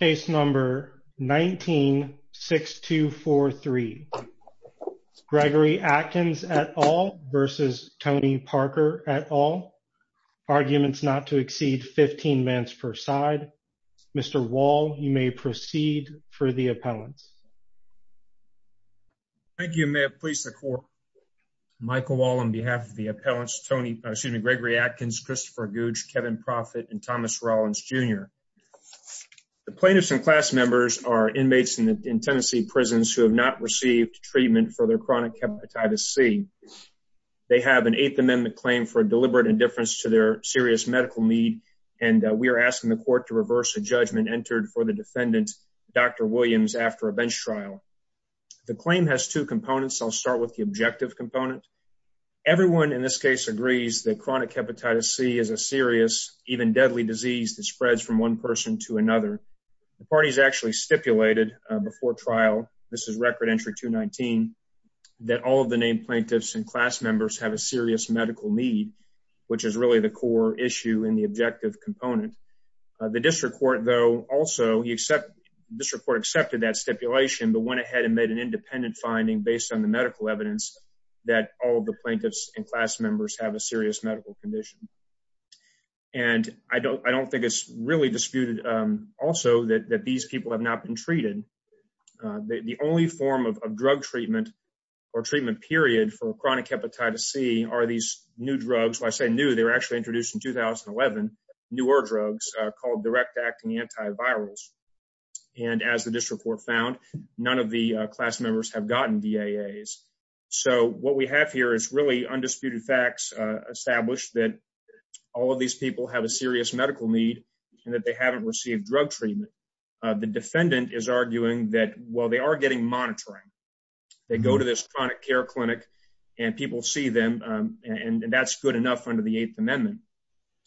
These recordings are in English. Case number 19-6243. Gregory Atkins et al versus Tony Parker et al. Arguments not to exceed 15 minutes per side. Mr. Wall, you may proceed for the appellants. Thank you. May it please the court. Michael Wall on behalf of the appellants, Gregory Atkins, Christopher Gouge, Kevin Proffitt, and Thomas Rollins Jr. The plaintiffs and class members are inmates in Tennessee prisons who have not received treatment for their chronic hepatitis C. They have an Eighth Amendment claim for deliberate indifference to their serious medical need, and we are asking the court to reverse the judgment entered for the defendant, Dr. Williams, after a bench trial. The claim has two components. I'll start with the objective component. Everyone in this case agrees that chronic hepatitis C is a serious, even deadly disease that spreads from one person to another. The parties actually stipulated before trial, this is Record Entry 219, that all of the named plaintiffs and class members have a serious medical need, which is really the core issue in the objective component. The district court, though, also, the district court accepted that stipulation, but went ahead and made an independent finding based on the medical evidence that all of the plaintiffs and class members have a serious medical condition. And I don't think it's really disputed also that these people have not been treated. The only form of drug treatment or treatment period for chronic hepatitis C are these new drugs. When I say new, they were actually introduced in 2011, newer drugs called direct acting antivirals. And as the district court found, none of the class members have gotten V. A. A. S. So what we have here is really undisputed facts established that all of these people have a serious medical need and that they haven't received drug treatment. The defendant is arguing that while they are getting monitoring, they go to this chronic care clinic and people see them, and that's good enough under the Eighth Amendment.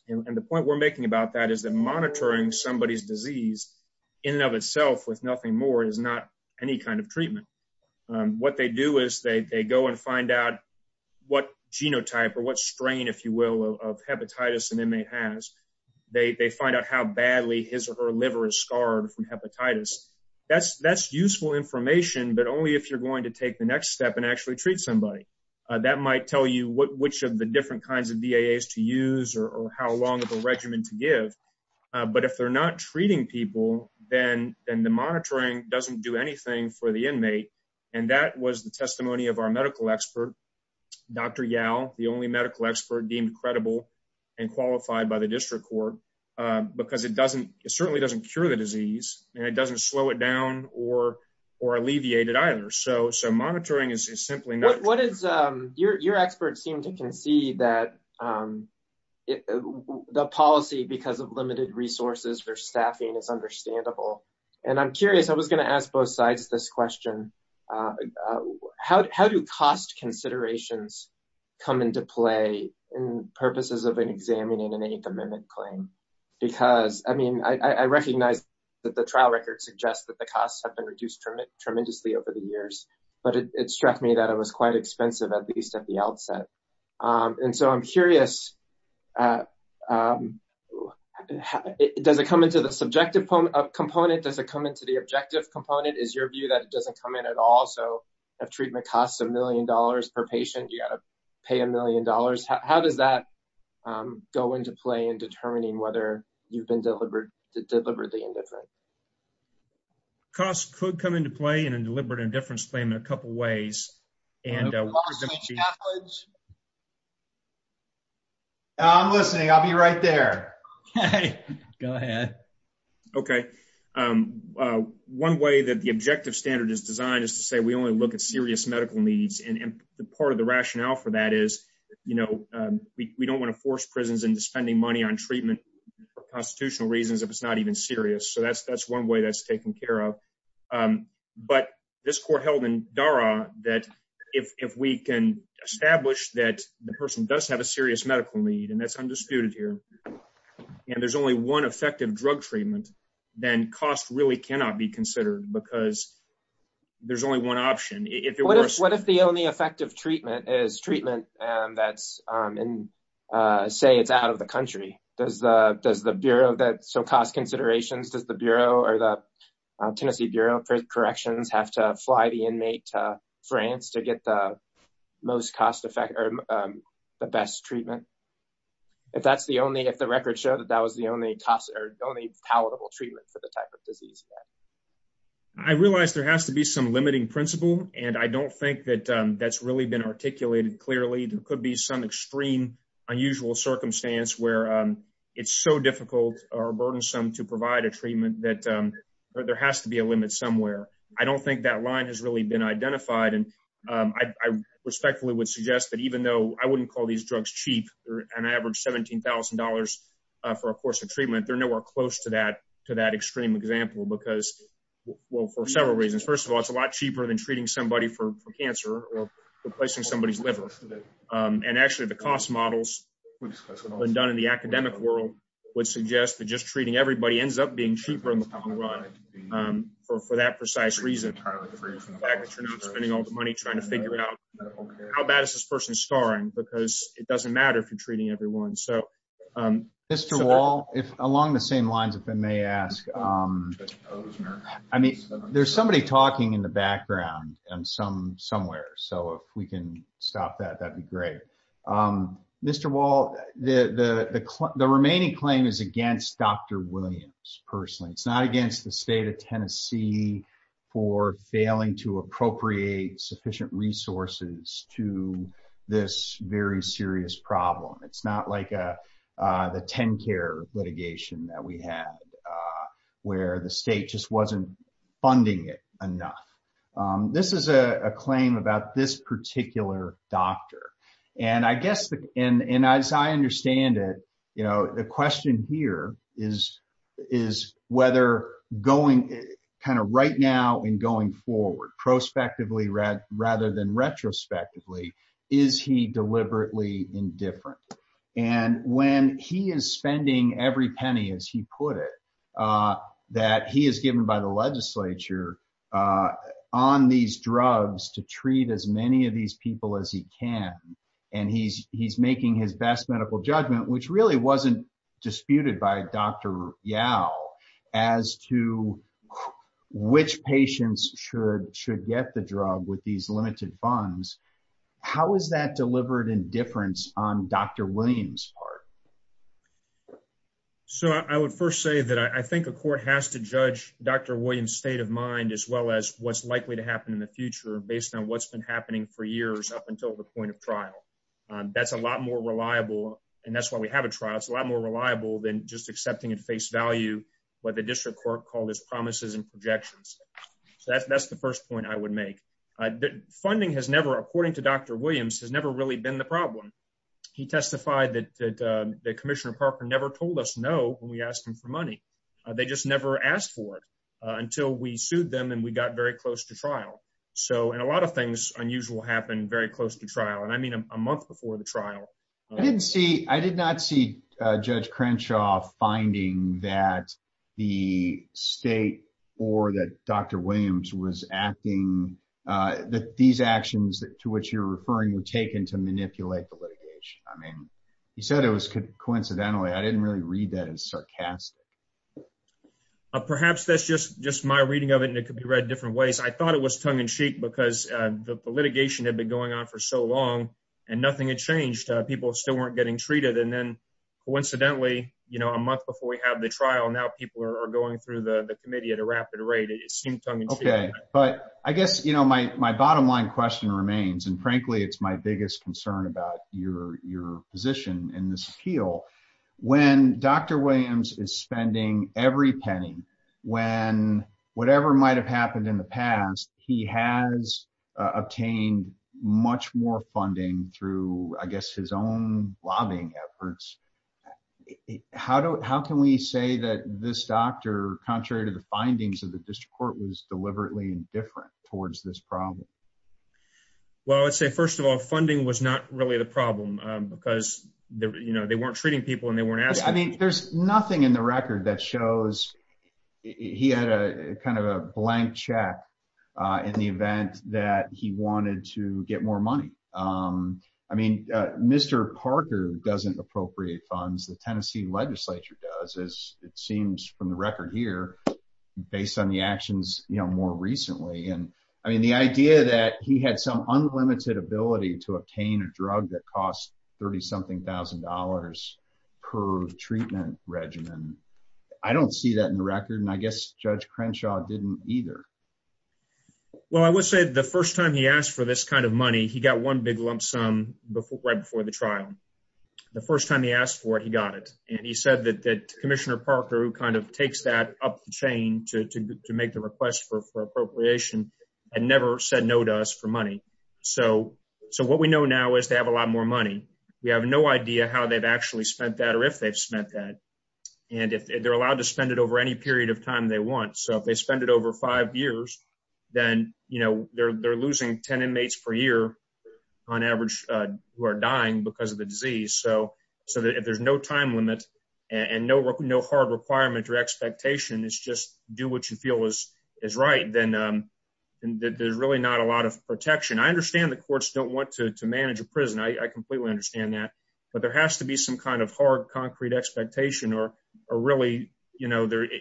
And the point we're making about that is that monitoring somebody's disease in and of itself with nothing more is not any kind of treatment. What they do is they go and find out what genotype or what strain, if you will, of hepatitis an inmate has. They find out how badly his or her liver is scarred from hepatitis. That's useful information, but only if you're going to take the next step and actually treat somebody. That might tell you which of the different kinds of V. A. S. To use or how long of regimen to give. But if they're not treating people, then the monitoring doesn't do anything for the inmate. And that was the testimony of our medical expert, Dr. Yal, the only medical expert deemed credible and qualified by the district court because it certainly doesn't cure the disease and it doesn't slow it down or alleviate it either. So monitoring is that the policy because of limited resources for staffing is understandable. And I'm curious, I was going to ask both sides this question. How do cost considerations come into play in purposes of examining an Eighth Amendment claim? Because I mean, I recognize that the trial record suggests that the costs have been reduced tremendously over the years, but it struck me that it was quite expensive, at least at the outset. And so I'm curious, does it come into the subjective component? Does it come into the objective component? Is your view that it doesn't come in at all? So if treatment costs a million dollars per patient, you got to pay a million dollars. How does that go into play in determining whether you've been deliberately indifferent? Cost could come into play in a deliberate indifference claim in a couple ways. I'm listening. I'll be right there. Go ahead. Okay. One way that the objective standard is designed is to say we only look at serious medical needs. And part of the rationale for that is, you know, we don't want to force prisons into spending money on treatment for constitutional reasons if it's even serious. So that's one way that's taken care of. But this court held in DARA that if we can establish that the person does have a serious medical need, and that's undisputed here, and there's only one effective drug treatment, then cost really cannot be considered because there's only one option. What if the only effective treatment is treatment that's in, say, it's out of the country? Does the bureau that, so cost considerations, does the bureau or the Tennessee Bureau of Corrections have to fly the inmate to France to get the most cost effect or the best treatment? If that's the only, if the records show that that was the only cost or only palatable treatment for the type of disease? I realize there has to be some limiting principle, and I don't think that that's really been articulated clearly. There could be some extreme unusual circumstance where it's so difficult or burdensome to provide a treatment that there has to be a limit somewhere. I don't think that line has really been identified, and I respectfully would suggest that even though I wouldn't call these drugs cheap, an average $17,000 for a course of treatment, they're nowhere close to that extreme example because, well, for several reasons. First of all, it's a lot cheaper than treating somebody for $17,000. The cost models, when done in the academic world, would suggest that just treating everybody ends up being cheaper in the long run for that precise reason, the fact that you're not spending all the money trying to figure out how bad is this person scarring because it doesn't matter if you're treating everyone. So... Mr. Wall, if along the same lines, if I may ask, I mean, there's somebody talking in the background and some somewhere, so if we can stop that, that'd be great. Mr. Wall, the remaining claim is against Dr. Williams, personally. It's not against the state of Tennessee for failing to appropriate sufficient resources to this very serious problem. It's not like the TennCare litigation that we had where the state just wasn't funding it enough. This is a claim about this particular doctor. And I guess, and as I understand it, the question here is whether going kind of right now and going forward, prospectively rather than retrospectively, is he deliberately indifferent? And when he is spending every penny, as he put it, that he is given by the legislature on these drugs to treat as many of these people as he can, and he's making his best medical judgment, which really wasn't disputed by Dr. Yao as to which patients should get the drug with these limited funds, how is that delivered indifference on Dr. Williams' part? So I would first say that I think a court has to judge Dr. Williams' state of mind as well as what's likely to happen in the future based on what's been happening for years up until the point of trial. That's a lot more reliable, and that's why we have a trial, it's a lot more projections. So that's the first point I would make. Funding has never, according to Dr. Williams, has never really been the problem. He testified that Commissioner Parker never told us no when we asked him for money. They just never asked for it until we sued them and we got very close to trial. And a lot of things unusual happen very close to trial, and I mean a month before the or that Dr. Williams was acting, that these actions to which you're referring were taken to manipulate the litigation. I mean he said it was coincidentally, I didn't really read that as sarcastic. Perhaps that's just my reading of it and it could be read different ways. I thought it was tongue-in-cheek because the litigation had been going on for so long and nothing had changed. People still weren't getting treated, and then coincidentally, you know, a month before we had the trial, now people are going through the the committee at a rapid rate. It seemed tongue-in-cheek. Okay, but I guess, you know, my bottom line question remains, and frankly, it's my biggest concern about your position in this appeal. When Dr. Williams is spending every penny, when whatever might have happened in the past, he has obtained much more funding through, I guess, his own lobbying efforts. How can we say that this doctor, contrary to the findings of the district court, was deliberately indifferent towards this problem? Well, I'd say, first of all, funding was not really the problem because, you know, they weren't treating people and they weren't asking. I mean there's nothing in the record that shows he had a kind of a blank check in the event that he wanted to get more money. I mean, Mr. Parker doesn't appropriate funds. The Tennessee legislature does, as it seems from the record here, based on the actions, you know, more recently. And, I mean, the idea that he had some unlimited ability to obtain a drug that cost 30-something thousand dollars per treatment regimen, I don't see that in the record, and I guess Judge Crenshaw didn't either. Well, I would say the first time he asked for this kind of money, he got one big lump sum right before the trial. The first time he asked for it, he got it. And he said that Commissioner Parker, who kind of takes that up the chain to make the request for appropriation, had never said no to us for money. So what we know now is they have a lot more money. We have no idea how they've actually spent that or if they've spent that. And they're allowed to spend it over any then, you know, they're losing 10 inmates per year on average who are dying because of the disease. So if there's no time limit and no hard requirement or expectation, it's just do what you feel is right, then there's really not a lot of protection. I understand the courts don't want to manage a prison. I completely understand that. But there has to be some kind of hard, concrete expectation or really, you know, the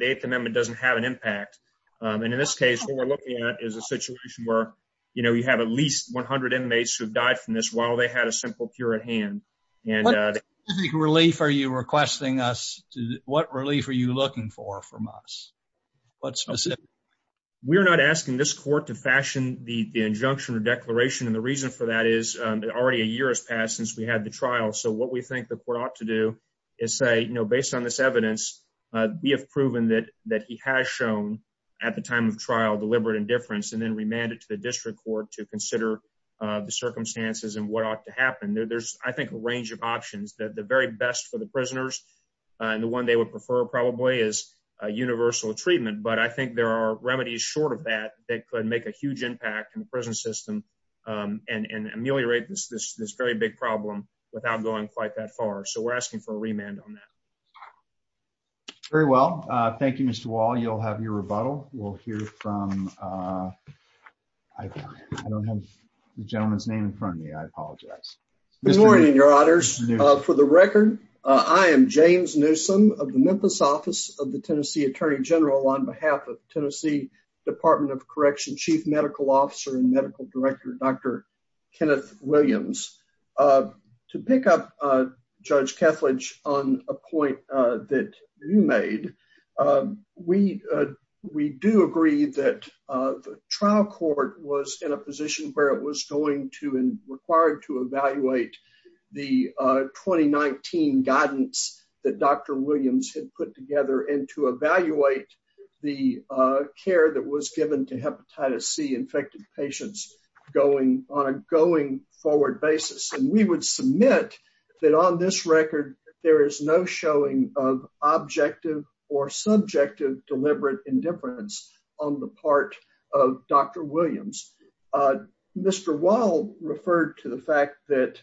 Eighth Amendment doesn't have an impact. And in this case, what we're looking at is a situation where, you know, you have at least 100 inmates who've died from this while they had a simple cure at hand. What specific relief are you requesting us? What relief are you looking for from us? What specific? We're not asking this court to fashion the injunction or declaration. And the reason for that is already a year has passed since we had the trial. So what we think the court ought to do is say, you know, based on this evidence, we have proven that that he has shown at the time of trial deliberate indifference and then remanded to the district court to consider the circumstances and what ought to happen. There's, I think, a range of options that the very best for the prisoners and the one they would prefer probably is a universal treatment. But I think there are impact in the prison system and ameliorate this very big problem without going quite that far. So we're asking for a remand on that. Very well. Thank you, Mr. Wall. You'll have your rebuttal. We'll hear from I don't have the gentleman's name in front of me. I apologize. Good morning, your honors. For the record, I am James Newsome of the Memphis Office of the Tennessee Attorney General on behalf of Tennessee Department of Correction, Chief Medical Officer and Medical Director Dr. Kenneth Williams. To pick up, Judge Kethledge, on a point that you made, we, we do agree that trial court was in a position where it was going to and required to evaluate the 2019 guidance that Dr. Williams had put together and to evaluate the care that was given to hepatitis C infected patients going on a going forward basis. And we would submit that on this record, there is no showing of objective or subjective deliberate indifference on the part of Dr. Williams. Mr. Wall referred to the fact that,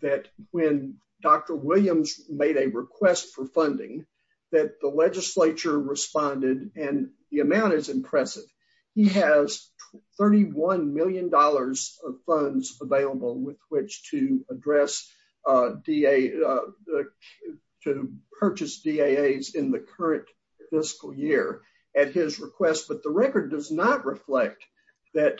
that when Dr. Williams made a request for funding, that the legislature responded and the amount is impressive. He has $31 million of funds available with which to address DA, to purchase DAAs in the current fiscal year at his request. But the record does not reflect that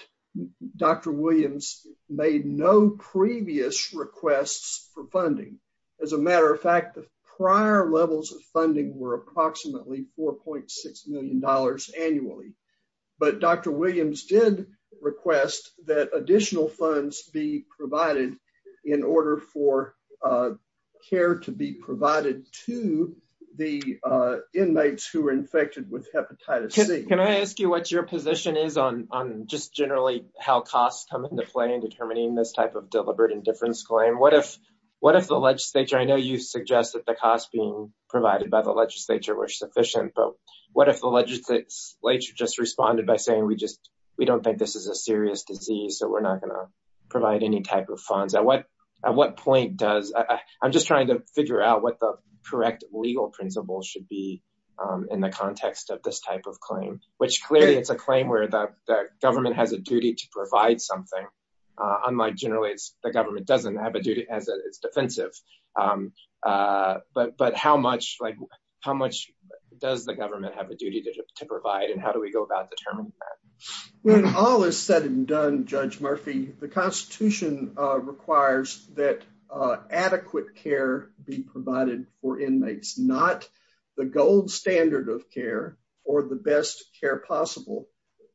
Dr. Williams made no previous requests for funding. As a matter of fact, the prior levels of funding were approximately $4.6 million annually. But Dr. Williams did request that additional funds be provided in order for care to be provided to the inmates who were infected with hepatitis C. Can I ask you what your position is on, on just generally how costs come into play in determining this type of deliberate indifference claim? What if, what if the legislature, I know you suggest that the costs being provided by the legislature were sufficient, but what if the legislature just responded by saying, we just, we don't think this is a serious disease, so we're not going to figure out what the correct legal principles should be in the context of this type of claim, which clearly it's a claim where the government has a duty to provide something. Unlike generally, it's the government doesn't have a duty as it's defensive. But, but how much, like how much does the government have a duty to provide and how do we go about determining that? When all is said and done, Judge Murphy, the constitution requires that adequate care be provided for inmates, not the gold standard of care or the best care possible.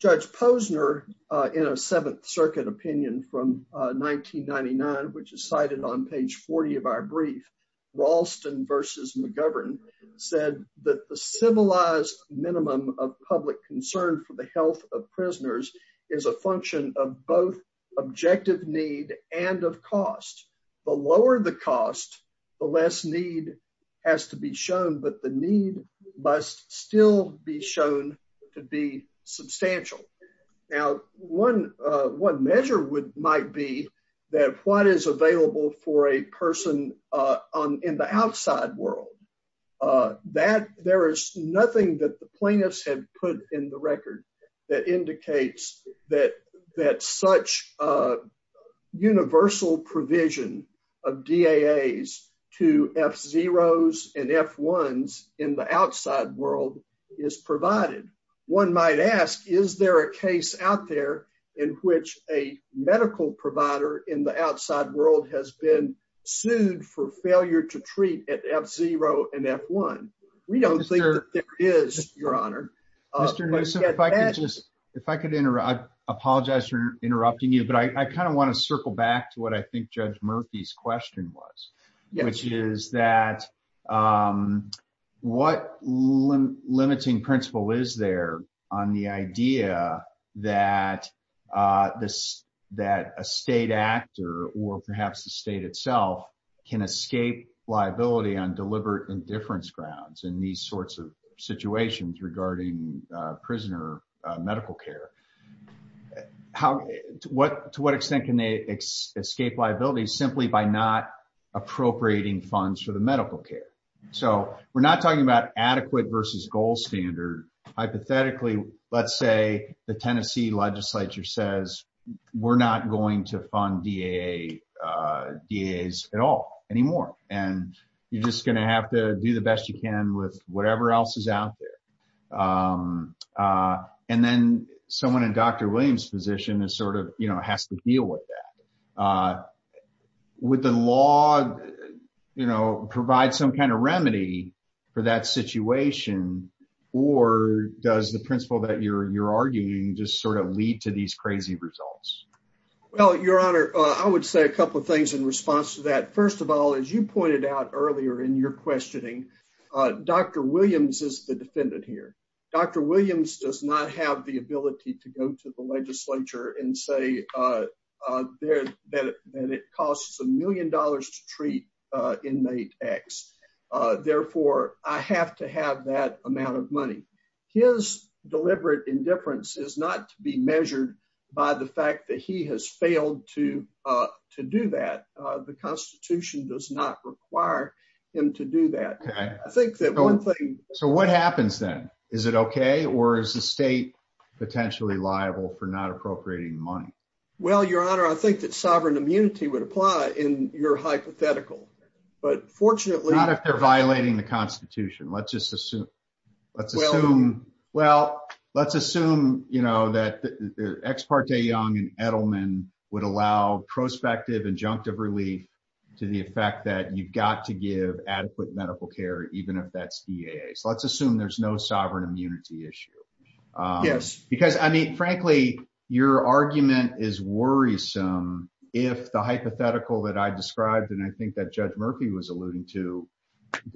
Judge Posner, in a Seventh Circuit opinion from 1999, which is cited on page 40 of our brief, Ralston versus McGovern said that the civilized minimum of public concern for the health of prisoners is a function of both objective need and of cost. The lower the cost, the less need has to be shown, but the need must still be shown to be substantial. Now, one, one measure would, might be that what is available for a person on, in the outside world, that there is nothing that plaintiffs have put in the record that indicates that, that such a universal provision of DAAs to F0s and F1s in the outside world is provided. One might ask, is there a case out there in which a medical provider in the outside world has been sued for failure to treat at F0 and F1? We don't think that there is, Your Honor. Mr. Newsom, if I could just, if I could interrupt, I apologize for interrupting you, but I kind of want to circle back to what I think Judge Murphy's question was, which is that what limiting principle is there on the idea that this, that a state actor or perhaps the state itself can escape liability on deliberate indifference grounds in these sorts of situations regarding prisoner medical care? How, what, to what extent can they escape liability simply by not appropriating funds for the medical care? So we're not talking about adequate versus gold standard. Hypothetically, let's say the Tennessee legislature says, we're not going to fund DAA, DAAs at all anymore. And you're just going to have to do the best you can with whatever else is out there. And then someone in Dr. Williams' position is sort of, you know, has to deal with that. Would the law, you know, provide some kind of remedy for that situation? Or does the principle that you're, you're arguing just sort of lead to these crazy results? Well, Your Honor, I would say a couple of things in response to that. First of all, as you pointed out earlier in your questioning, Dr. Williams is the defendant here. Dr. Williams does not have the ability to go to the legislature and say that it costs a million dollars to treat inmate X. Therefore, I have to have that amount of money. His deliberate indifference is not to be measured by the fact that he has failed to do that. The Constitution does not require him to do that. I think that one thing... So what happens then? Is it okay? Or is the state potentially liable for not appropriating money? Well, Your Honor, I think that sovereign immunity would apply in your hypothetical. But fortunately... Not if they're violating the Constitution. Let's just assume. Let's assume. Well, let's assume, you know, that the ex parte Young and Edelman would allow prospective injunctive relief to the effect that you've got to give adequate medical care, even if that's EAA. So let's assume there's no sovereign immunity issue. Yes, because I mean, frankly, your argument is worrisome. If the hypothetical that I described, and I think Judge Murphy was alluding to,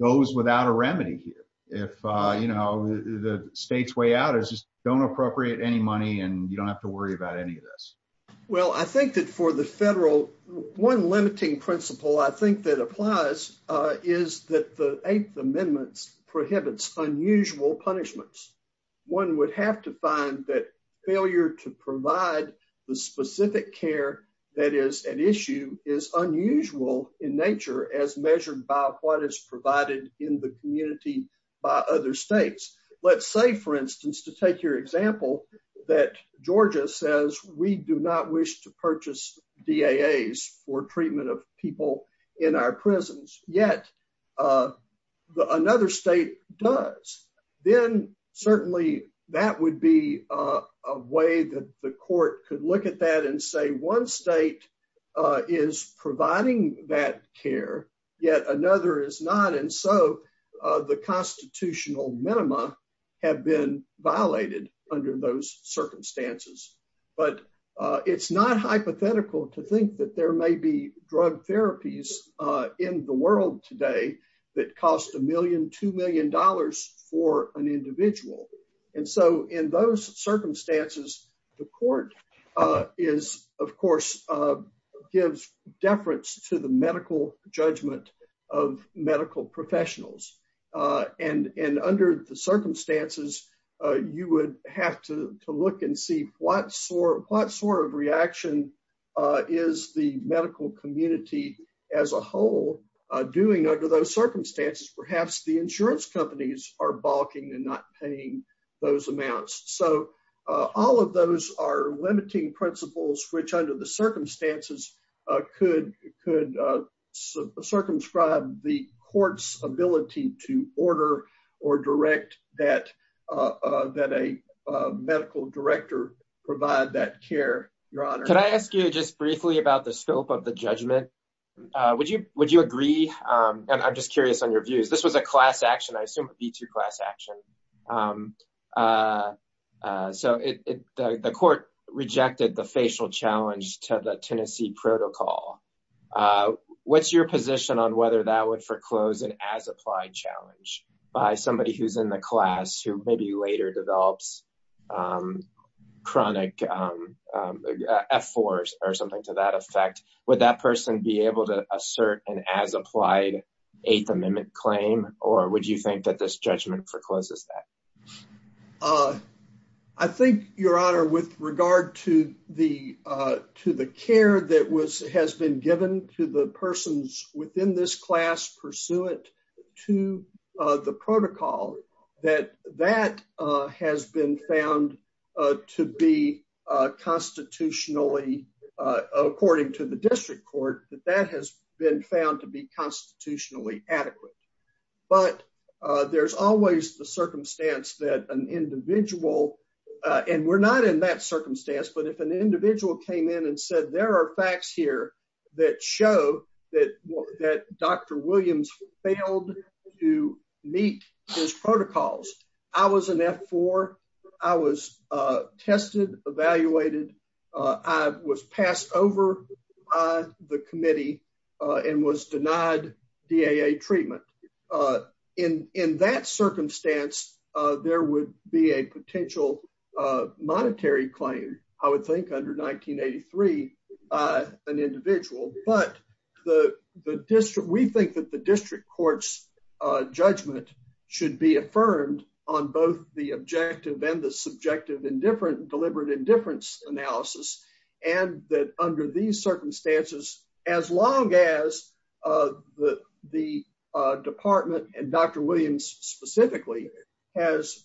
goes without a remedy here. If, you know, the state's way out is just don't appropriate any money, and you don't have to worry about any of this. Well, I think that for the federal, one limiting principle I think that applies is that the Eighth Amendment prohibits unusual punishments. One would have to find that failure to provide the specific care that is an issue is unusual in nature as measured by what is provided in the community by other states. Let's say, for instance, to take your example, that Georgia says we do not wish to purchase DAAs for treatment of people in our prisons, yet another state does. Then certainly that would be a way that the court could look at that and say one state is providing that care, yet another is not. And so the constitutional minima have been violated under those circumstances. But it's not hypothetical to think that there may be drug therapies in the world today, that cost $1 million, $2 million for an individual. And so in those circumstances, the court is, of course, gives deference to the medical judgment of medical professionals. And under the circumstances, you would have to look and see what sort of reaction is the perhaps the insurance companies are balking and not paying those amounts. So all of those are limiting principles, which under the circumstances could circumscribe the court's ability to order or direct that a medical director provide that care, Your Honor. Can I ask you just briefly about the scope of the judgment? Would you agree? And I'm just curious on your views. This was a class action, I assume a B2 class action. So the court rejected the facial challenge to the Tennessee protocol. What's your position on whether that would foreclose an as-applied challenge by somebody who's in the class who maybe later develops chronic F4s or something to that effect? Would that person be able to assert an as-applied Eighth Amendment claim? Or would you think that this judgment forecloses that? I think, Your Honor, with regard to the care that has been given to the persons within this class pursuant to the protocol, that that has been found to be constitutionally, according to the district court, that that has been found to be constitutionally adequate. But there's always the circumstance that an individual, and we're not in that circumstance, but if an individual came in and said, there are facts here that show that Dr. Williams failed to meet his protocols. I was an F4. I was tested, evaluated. I was passed over by the committee and was denied DAA treatment. In that circumstance, there would be a potential monetary claim, I would think, under 1983, an individual. But we think that the district court's judgment should be affirmed on both the objective and the subjective deliberate indifference analysis. And that under these circumstances, as long as the department and Dr. Williams specifically has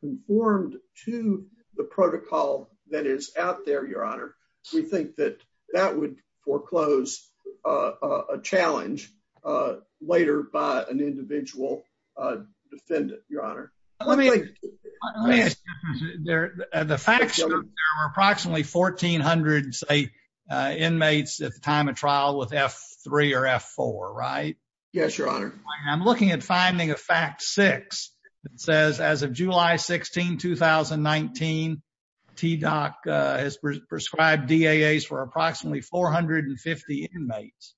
conformed to the protocol that is out there, Your Honor, we think that that would foreclose a challenge later by an individual defendant, Your Honor. The facts are approximately 1400 inmates at the time of trial with F3 or F4, right? Yes, Your Honor. I'm looking at finding a fact six that says, as of July 16, 2019, TDOC has prescribed DAAs for approximately 450 inmates,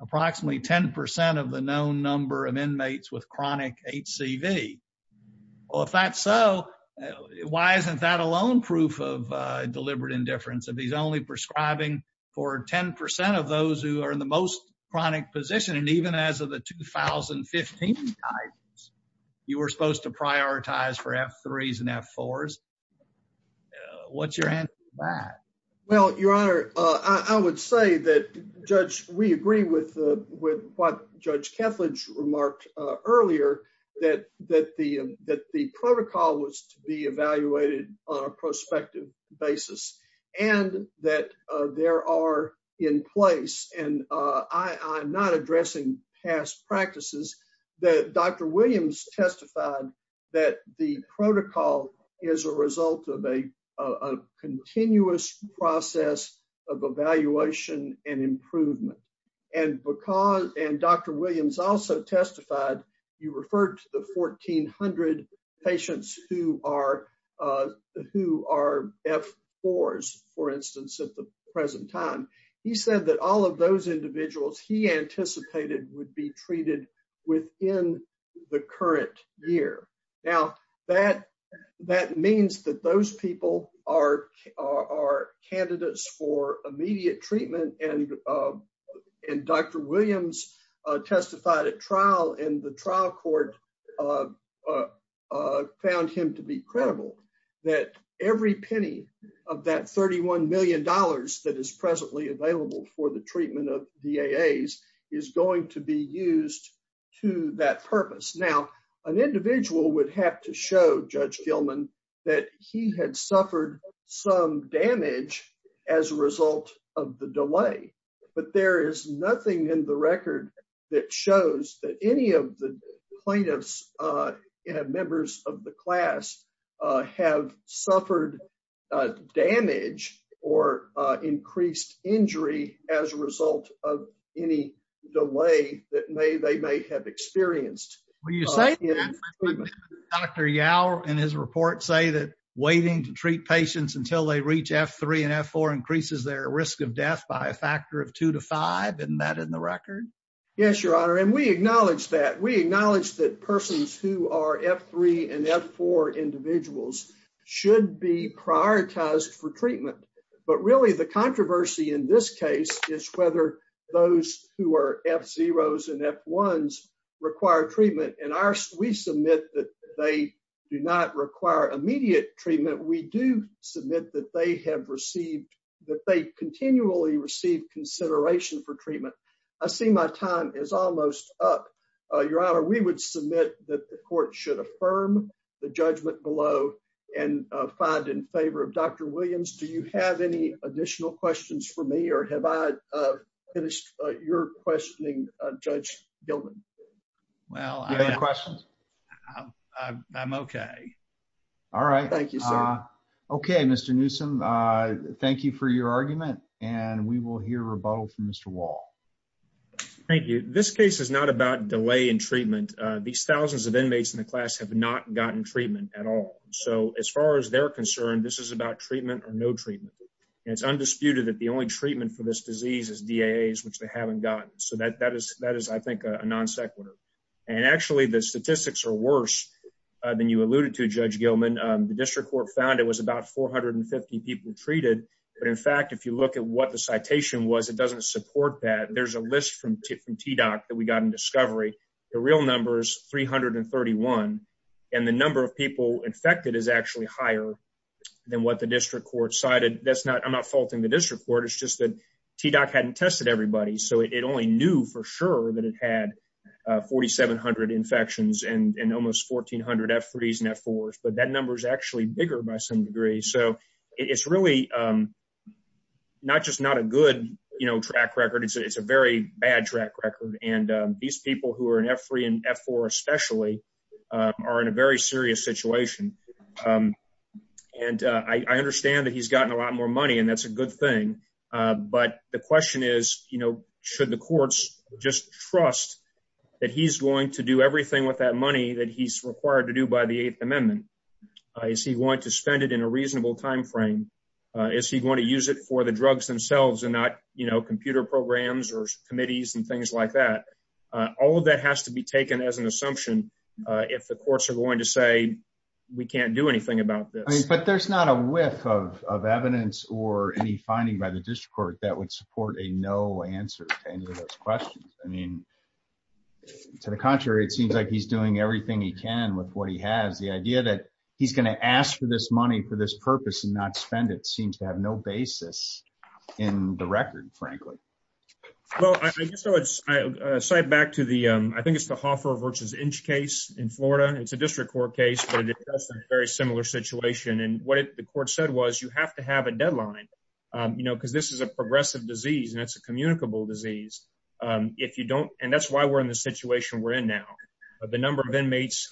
approximately 10% of the known number of inmates with chronic HCV. Well, if that's so, why isn't that alone proof of deliberate indifference? If he's only prescribing for 10% of those who are in the most chronic position, and even as of the 2015 guidance, you were supposed to prioritize for F3s and F4s. What's your answer to that? Well, Your Honor, I would say that we agree with what Judge Kethledge remarked earlier, that the protocol was to be evaluated on a prospective basis, and that there are in place, and I'm not addressing past practices, that Dr. Williams testified that the protocol is a result of a continuous process of evaluation and improvement. And Dr. Williams also testified you referred to the 1,400 patients who are F4s, for instance, at the present time. He said that all of those individuals he anticipated would be treated within the current year. Now, that means that those people are candidates for immediate treatment, and Dr. Williams testified at trial, and the trial court found him to be credible that every penny of that $31 million that is presently available for the treatment of VAAs is going to be used to that purpose. Now, an individual would have to show Judge Gilman that he had suffered some damage as a result of the delay, but there is nothing in the record that shows that any of the plaintiffs, members of the class, have suffered damage or increased injury as a result of any delay that they may have experienced. Will you say that? Dr. Yower, in his report, say that waiting to treat patients until they reach F3 and F4 increases their risk of death by a factor of two to five, isn't that in the record? Yes, Your Honor, and we acknowledge that. We acknowledge that persons who are F3 and F4 individuals should be prioritized for treatment, but really the controversy in this case is whether those who are F0s and F1s require treatment, and we submit that they do not require immediate treatment. We do submit that they have received, that they continually receive consideration for treatment. I see my time is almost up. Your Honor, we would submit that the court should affirm the judgment below and find in favor of Dr. Williams. Do you have any additional questions for me, or have I finished your questioning, Judge Gilman? Well, I'm okay. All right. Thank you, sir. Okay, Mr. Newsom, thank you for your argument, and we will hear rebuttal from Mr. Wall. Thank you. This case is not about delay in treatment. These thousands of inmates in the class have not gotten treatment at all, so as far as they're concerned, this is about treatment or no treatment, and it's undisputed that the only treatment for this disease is DAAs, which they haven't gotten, so that is, I think, a non sequitur. And actually, the statistics are worse than you alluded to, Judge Gilman. The district court found it was about 450 people treated, but in fact, if you look at what the citation was, it doesn't support that. There's a list from TDOC that we got in Discovery. The real number is 331, and the number of people infected is actually higher than what the district court cited. I'm not faulting the district court. It's just that TDOC hadn't tested everybody, so it only knew for sure that it had 4,700 infections and almost 1,400 F3s and F4s, but that number is actually bigger by some degree, so it's really not just not a good track record. It's a very bad track record, and these people who are in F3 and F4 especially are in a very serious situation, and I understand that he's gotten a lot more money, and that's a good thing, but the question is, should the courts just trust that he's going to do everything with that money that he's required to do by the Eighth Amendment? Is he going to spend it in a reasonable time frame? Is he going to use it for the drugs themselves and not computer programs or committees and things like that? All of that has to be taken as an assumption if the courts are going to say, we can't do anything about this. But there's not a whiff of evidence or any finding by the district court that would support a no answer to any of these questions. To the contrary, it seems like he's doing everything he can with what he has. The idea that he's going to ask for this money for this purpose and not spend it seems to have no basis in the record, frankly. Well, I guess I'll cite back to the, I think it's the Hoffer v. Inch case in Florida. It's a district court case, but it does have a very similar situation, and what the court said was you have to have a deadline because this is a progressive disease and it's a communicable disease. And that's why we're in the situation we're in now. The number of inmates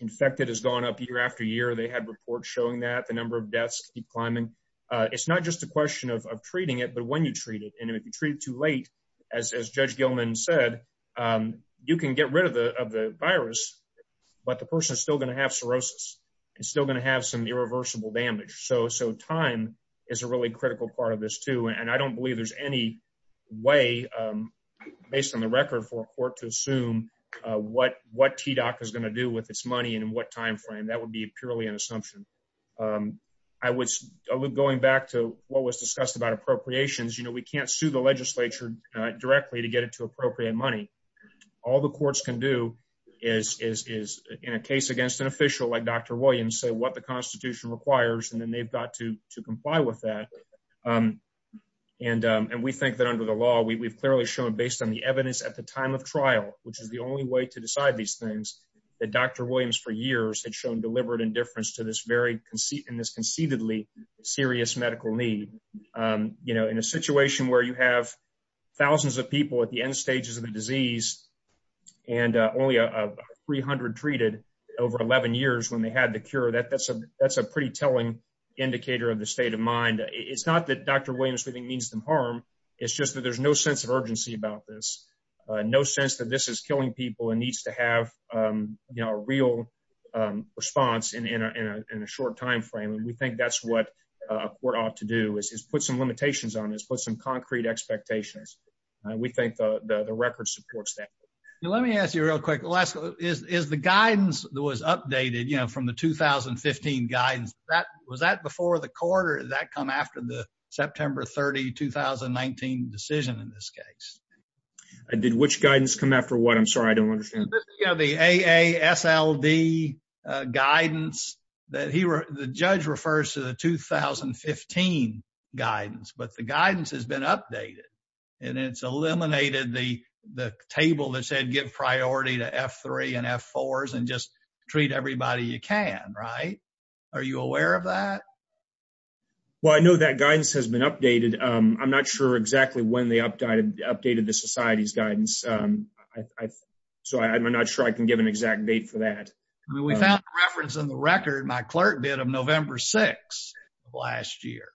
infected has gone up year after year. They had reports showing that the number of deaths keep climbing. It's not just a question of treating it, but when you treat it. And if you treat it too late, as Judge Gilman said, you can get rid of the virus, but the person is still going to have cirrhosis. It's still going to have some irreversible damage. So time is a really way, based on the record, for a court to assume what TDOC is going to do with its money and in what time frame. That would be purely an assumption. Going back to what was discussed about appropriations, we can't sue the legislature directly to get it to appropriate money. All the courts can do is, in a case against an official like Dr. Williams, say what the under the law, we've clearly shown based on the evidence at the time of trial, which is the only way to decide these things, that Dr. Williams for years had shown deliberate indifference to this very conceitedly serious medical need. In a situation where you have thousands of people at the end stages of the disease and only 300 treated over 11 years when they had the cure, that's a pretty telling indicator of the state of mind. It's not that Dr. Williams means them harm, it's just that there's no sense of urgency about this. No sense that this is killing people and needs to have a real response in a short time frame. We think that's what a court ought to do, is put some limitations on this, put some concrete expectations. We think the record supports that. Let me ask you real quick, is the guidance that was updated from the 2015 guidance, was that before the court or did that come after the September 30, 2019 decision in this case? Did which guidance come after what? I'm sorry, I don't understand. The AASLD guidance, the judge refers to the 2015 guidance, but the guidance has been updated. It's eliminated the table that said give priority to F3 and F4s and just treat everybody you can, right? Are you aware of that? Well, I know that guidance has been updated. I'm not sure exactly when they updated the society's guidance, so I'm not sure I can give an exact date for that. I mean, we found a reference in the record, my clerk did, of November 6 of last year,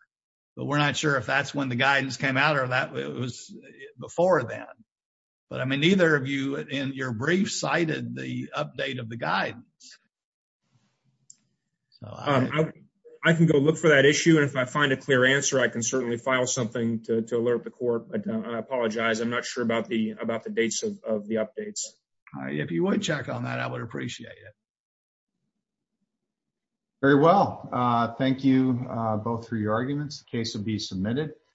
but we're not sure if that's when the guidance came out or that was before then. But I mean, neither of you in your brief cited the update of the guidance. I can go look for that issue and if I find a clear answer, I can certainly file something to alert the court. I apologize, I'm not sure about the dates of the updates. If you would check on that, I would appreciate it. Very well, thank you both for your arguments. The case will be submitted.